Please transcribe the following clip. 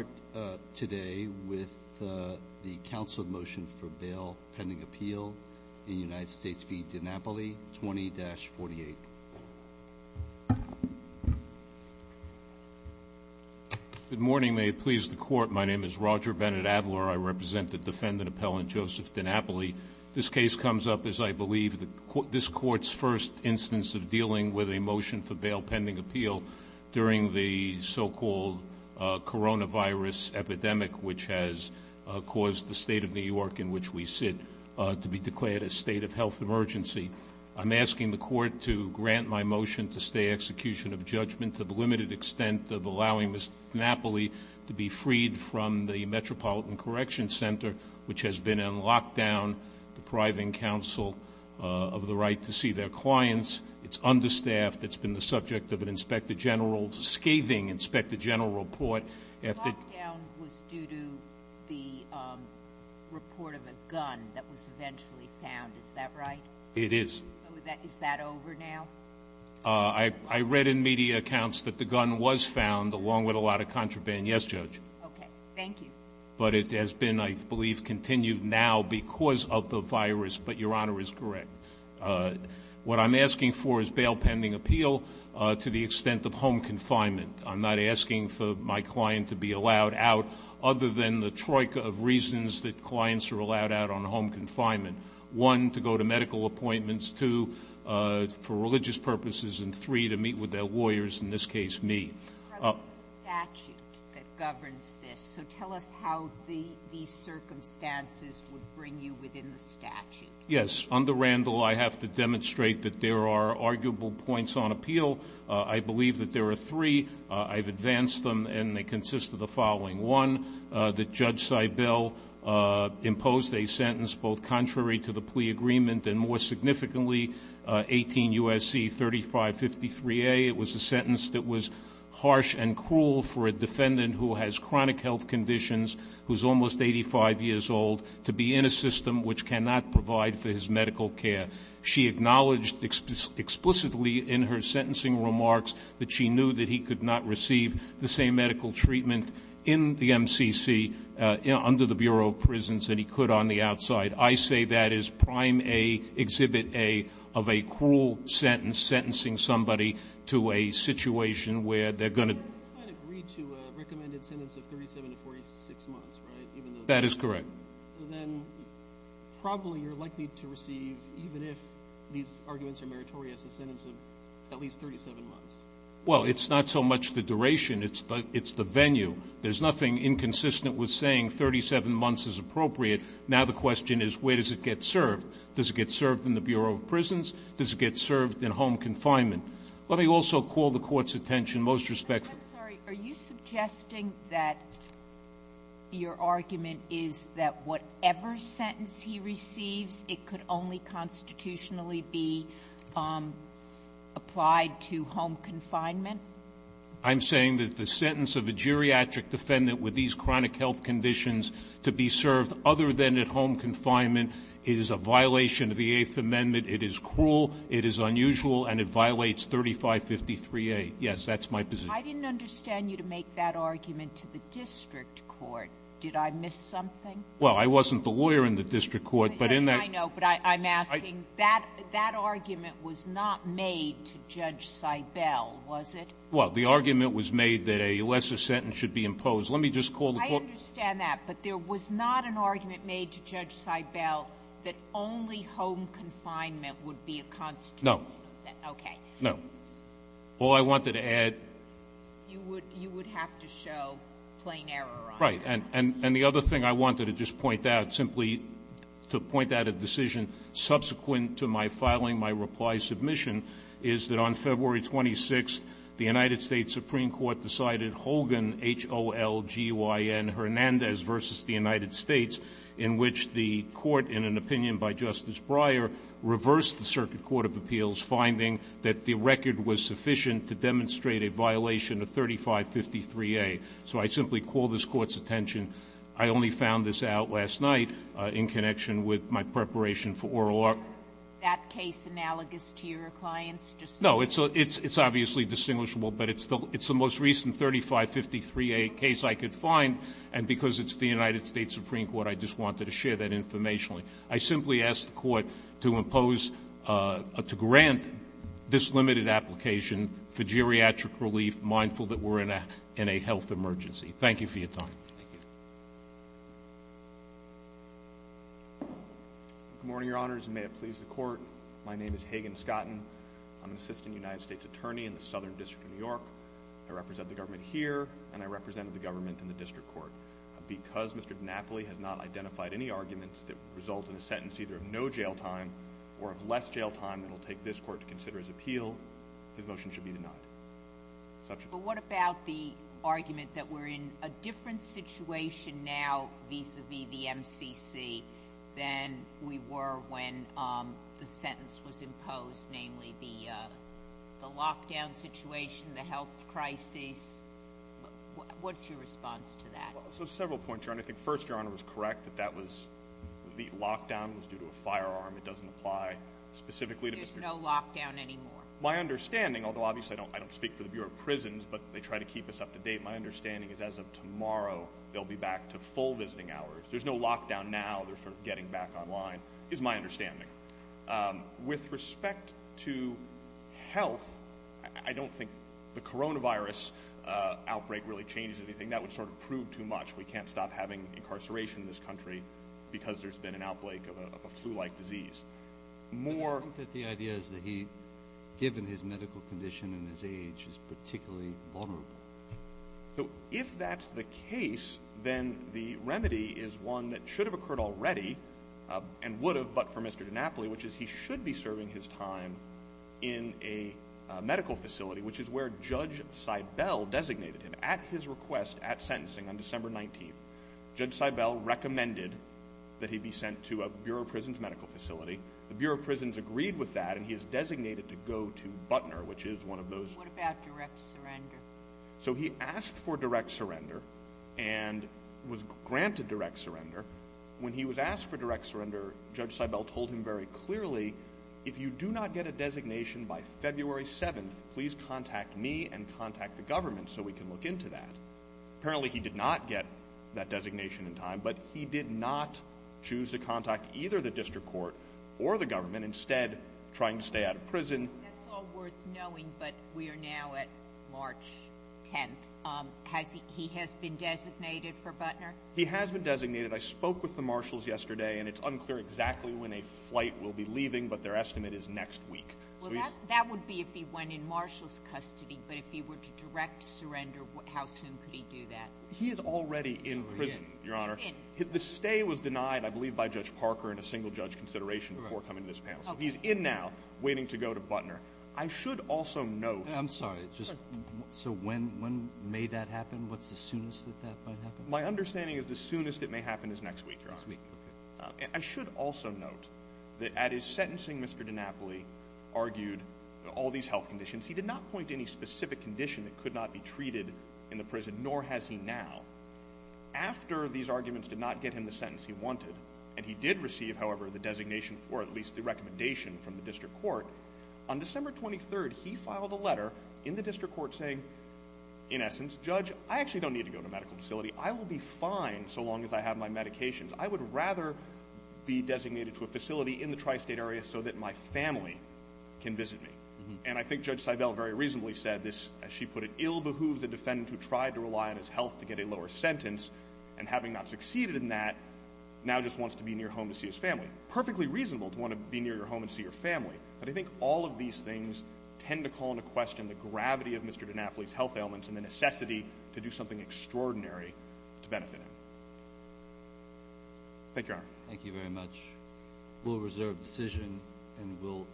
We'll start today with the Council of Motion for Bail Pending Appeal in United States v. DiNapoli 20-48. Good morning. May it please the Court, my name is Roger Bennett-Adler. I represent the defendant appellant Joseph DiNapoli. This case comes up as I believe this Court's first instance of dealing with a motion for which has caused the state of New York in which we sit to be declared a state of health emergency. I'm asking the Court to grant my motion to stay execution of judgment to the limited extent of allowing Ms. DiNapoli to be freed from the Metropolitan Correction Center, which has been in lockdown, depriving counsel of the right to see their clients. It's understaffed. It's been the subject of an Inspector General, scathing Inspector General report. The lockdown was due to the report of a gun that was eventually found, is that right? It is. Is that over now? I read in media accounts that the gun was found along with a lot of contraband. Yes, Judge. Okay, thank you. But it has been, I believe, continued now because of the virus, but Your Honor is correct. What I'm asking for is bail pending appeal to the extent of home confinement. I'm not asking for my client to be allowed out other than the troika of reasons that clients are allowed out on home confinement. One, to go to medical appointments, two, for religious purposes, and three, to meet with their lawyers, in this case, me. The statute that governs this, so tell us how these circumstances would bring you within the statute. Yes, under Randall, I have to demonstrate that there are arguable points on appeal. I believe that there are three. I've advanced them, and they consist of the following, one, that Judge Seibel imposed a sentence both contrary to the plea agreement and more significantly 18 U.S.C. 3553A. It was a sentence that was harsh and cruel for a defendant who has chronic health conditions, who's almost 85 years old, to be in a system which cannot provide for his medical care. She acknowledged explicitly in her sentencing remarks that she knew that he could not receive the same medical treatment in the MCC under the Bureau of Prisons that he could on the outside. I say that is Prime A, Exhibit A of a cruel sentence, sentencing somebody to a situation where they're going to. I agree to a recommended sentence of 37 to 46 months, right? That is correct. So then probably you're likely to receive, even if these arguments are meritorious, a sentence of at least 37 months. Well, it's not so much the duration. It's the venue. There's nothing inconsistent with saying 37 months is appropriate. Now the question is where does it get served? Does it get served in the Bureau of Prisons? Does it get served in home confinement? Let me also call the Court's attention most respectfully. I'm sorry. Are you suggesting that your argument is that whatever sentence he receives, it could only constitutionally be applied to home confinement? I'm saying that the sentence of a geriatric defendant with these chronic health conditions to be served other than at home confinement is a violation of the Eighth Amendment. It is cruel. It is unusual. And it violates 3553A. Yes, that's my position. I didn't understand you to make that argument to the district court. Did I miss something? Well, I wasn't the lawyer in the district court, but in that— I know, but I'm asking. That argument was not made to Judge Seibel, was it? Well, the argument was made that a lesser sentence should be imposed. Let me just call the Court— I understand that, but there was not an argument made to Judge Seibel that only home confinement would be a constitutional sentence. No. Okay. No. All I wanted to add— You would have to show plain error on it. Right. And the other thing I wanted to just point out, simply to point out a decision subsequent to my filing my reply submission, is that on February 26th, the United States Supreme Court decided Hogan, H-O-L-G-Y-N, Hernandez versus the United States, in which the court, in an opinion by Justice Breyer, reversed the Circuit Court of Appeals, finding that the record was sufficient to demonstrate a violation of 3553A. So I simply call this Court's attention. I only found this out last night in connection with my preparation for oral argument. Is that case analogous to your client's? No. It's obviously distinguishable, but it's the most recent 3553A case I could find, and because it's the United States Supreme Court, I just wanted to share that information. I simply ask the Court to grant this limited application for geriatric relief, mindful that we're in a health emergency. Thank you for your time. Thank you. Good morning, Your Honors, and may it please the Court. My name is Hagan Scotton. I'm an assistant United States attorney in the Southern District of New York. I represent the government here, and I represent the government in the district court. Because Mr. DiNapoli has not identified any arguments that result in a sentence either of no jail time or of less jail time, it will take this Court to consider his appeal. His motion should be denied. But what about the argument that we're in a different situation now vis-à-vis the MCC than we were when the sentence was imposed, namely the lockdown situation, the health crisis? What's your response to that? Well, there's several points, Your Honor. I think, first, Your Honor was correct that the lockdown was due to a firearm. It doesn't apply specifically to the district. There's no lockdown anymore? My understanding, although obviously I don't speak for the Bureau of Prisons, but they try to keep us up to date, my understanding is as of tomorrow, they'll be back to full visiting hours. There's no lockdown now. They're sort of getting back online, is my understanding. With respect to health, I don't think the coronavirus outbreak really changes anything. That would sort of prove too much. We can't stop having incarceration in this country because there's been an outbreak of a flu-like disease. I think that the idea is that he, given his medical condition and his age, is particularly vulnerable. So if that's the case, then the remedy is one that should have occurred already and would have but for Mr. DiNapoli, which is he should be serving his time in a medical facility, which is where Judge Seibel designated him at his request at sentencing on December 19th. Judge Seibel recommended that he be sent to a Bureau of Prisons medical facility. The Bureau of Prisons agreed with that, and he is designated to go to Butner, which is one of those— What about direct surrender? So he asked for direct surrender and was granted direct surrender. When he was asked for direct surrender, Judge Seibel told him very clearly, if you do not get a designation by February 7th, please contact me and contact the government so we can look into that. Apparently, he did not get that designation in time, but he did not choose to contact either the district court or the government, instead trying to stay out of prison. That's all worth knowing, but we are now at March 10th. Has he—he has been designated for Butner? He has been designated. I spoke with the marshals yesterday, and it's unclear exactly when a flight will be leaving, but their estimate is next week. Well, that would be if he went in marshals' custody, but if he were to direct surrender, how soon could he do that? He is already in prison, Your Honor. He's in? The stay was denied, I believe, by Judge Parker and a single judge consideration before coming to this panel. So he's in now, waiting to go to Butner. I should also note— I'm sorry. So when may that happen? What's the soonest that that might happen? My understanding is the soonest it may happen is next week, Your Honor. Next week. I should also note that at his sentencing, Mr. DiNapoli argued all these health conditions. He did not point to any specific condition that could not be treated in the prison, nor has he now. After these arguments did not get him the sentence he wanted, and he did receive, however, the designation or at least the recommendation from the district court, on December 23rd, he filed a letter in the district court saying, in essence, Judge, I actually don't need to go to a medical facility. I will be fine so long as I have my medications. I would rather be designated to a facility in the tri-state area so that my family can visit me. And I think Judge Seibel very reasonably said this, as she put it, ill behooves a defendant who tried to rely on his health to get a lower sentence, and having not succeeded in that, now just wants to be near home to see his family. Perfectly reasonable to want to be near your home and see your family. But I think all of these things tend to call into question the gravity of Mr. DiNapoli's health ailments and the necessity to do something extraordinary to benefit him. Thank you, Your Honor. Thank you very much. We'll reserve the decision and we'll turn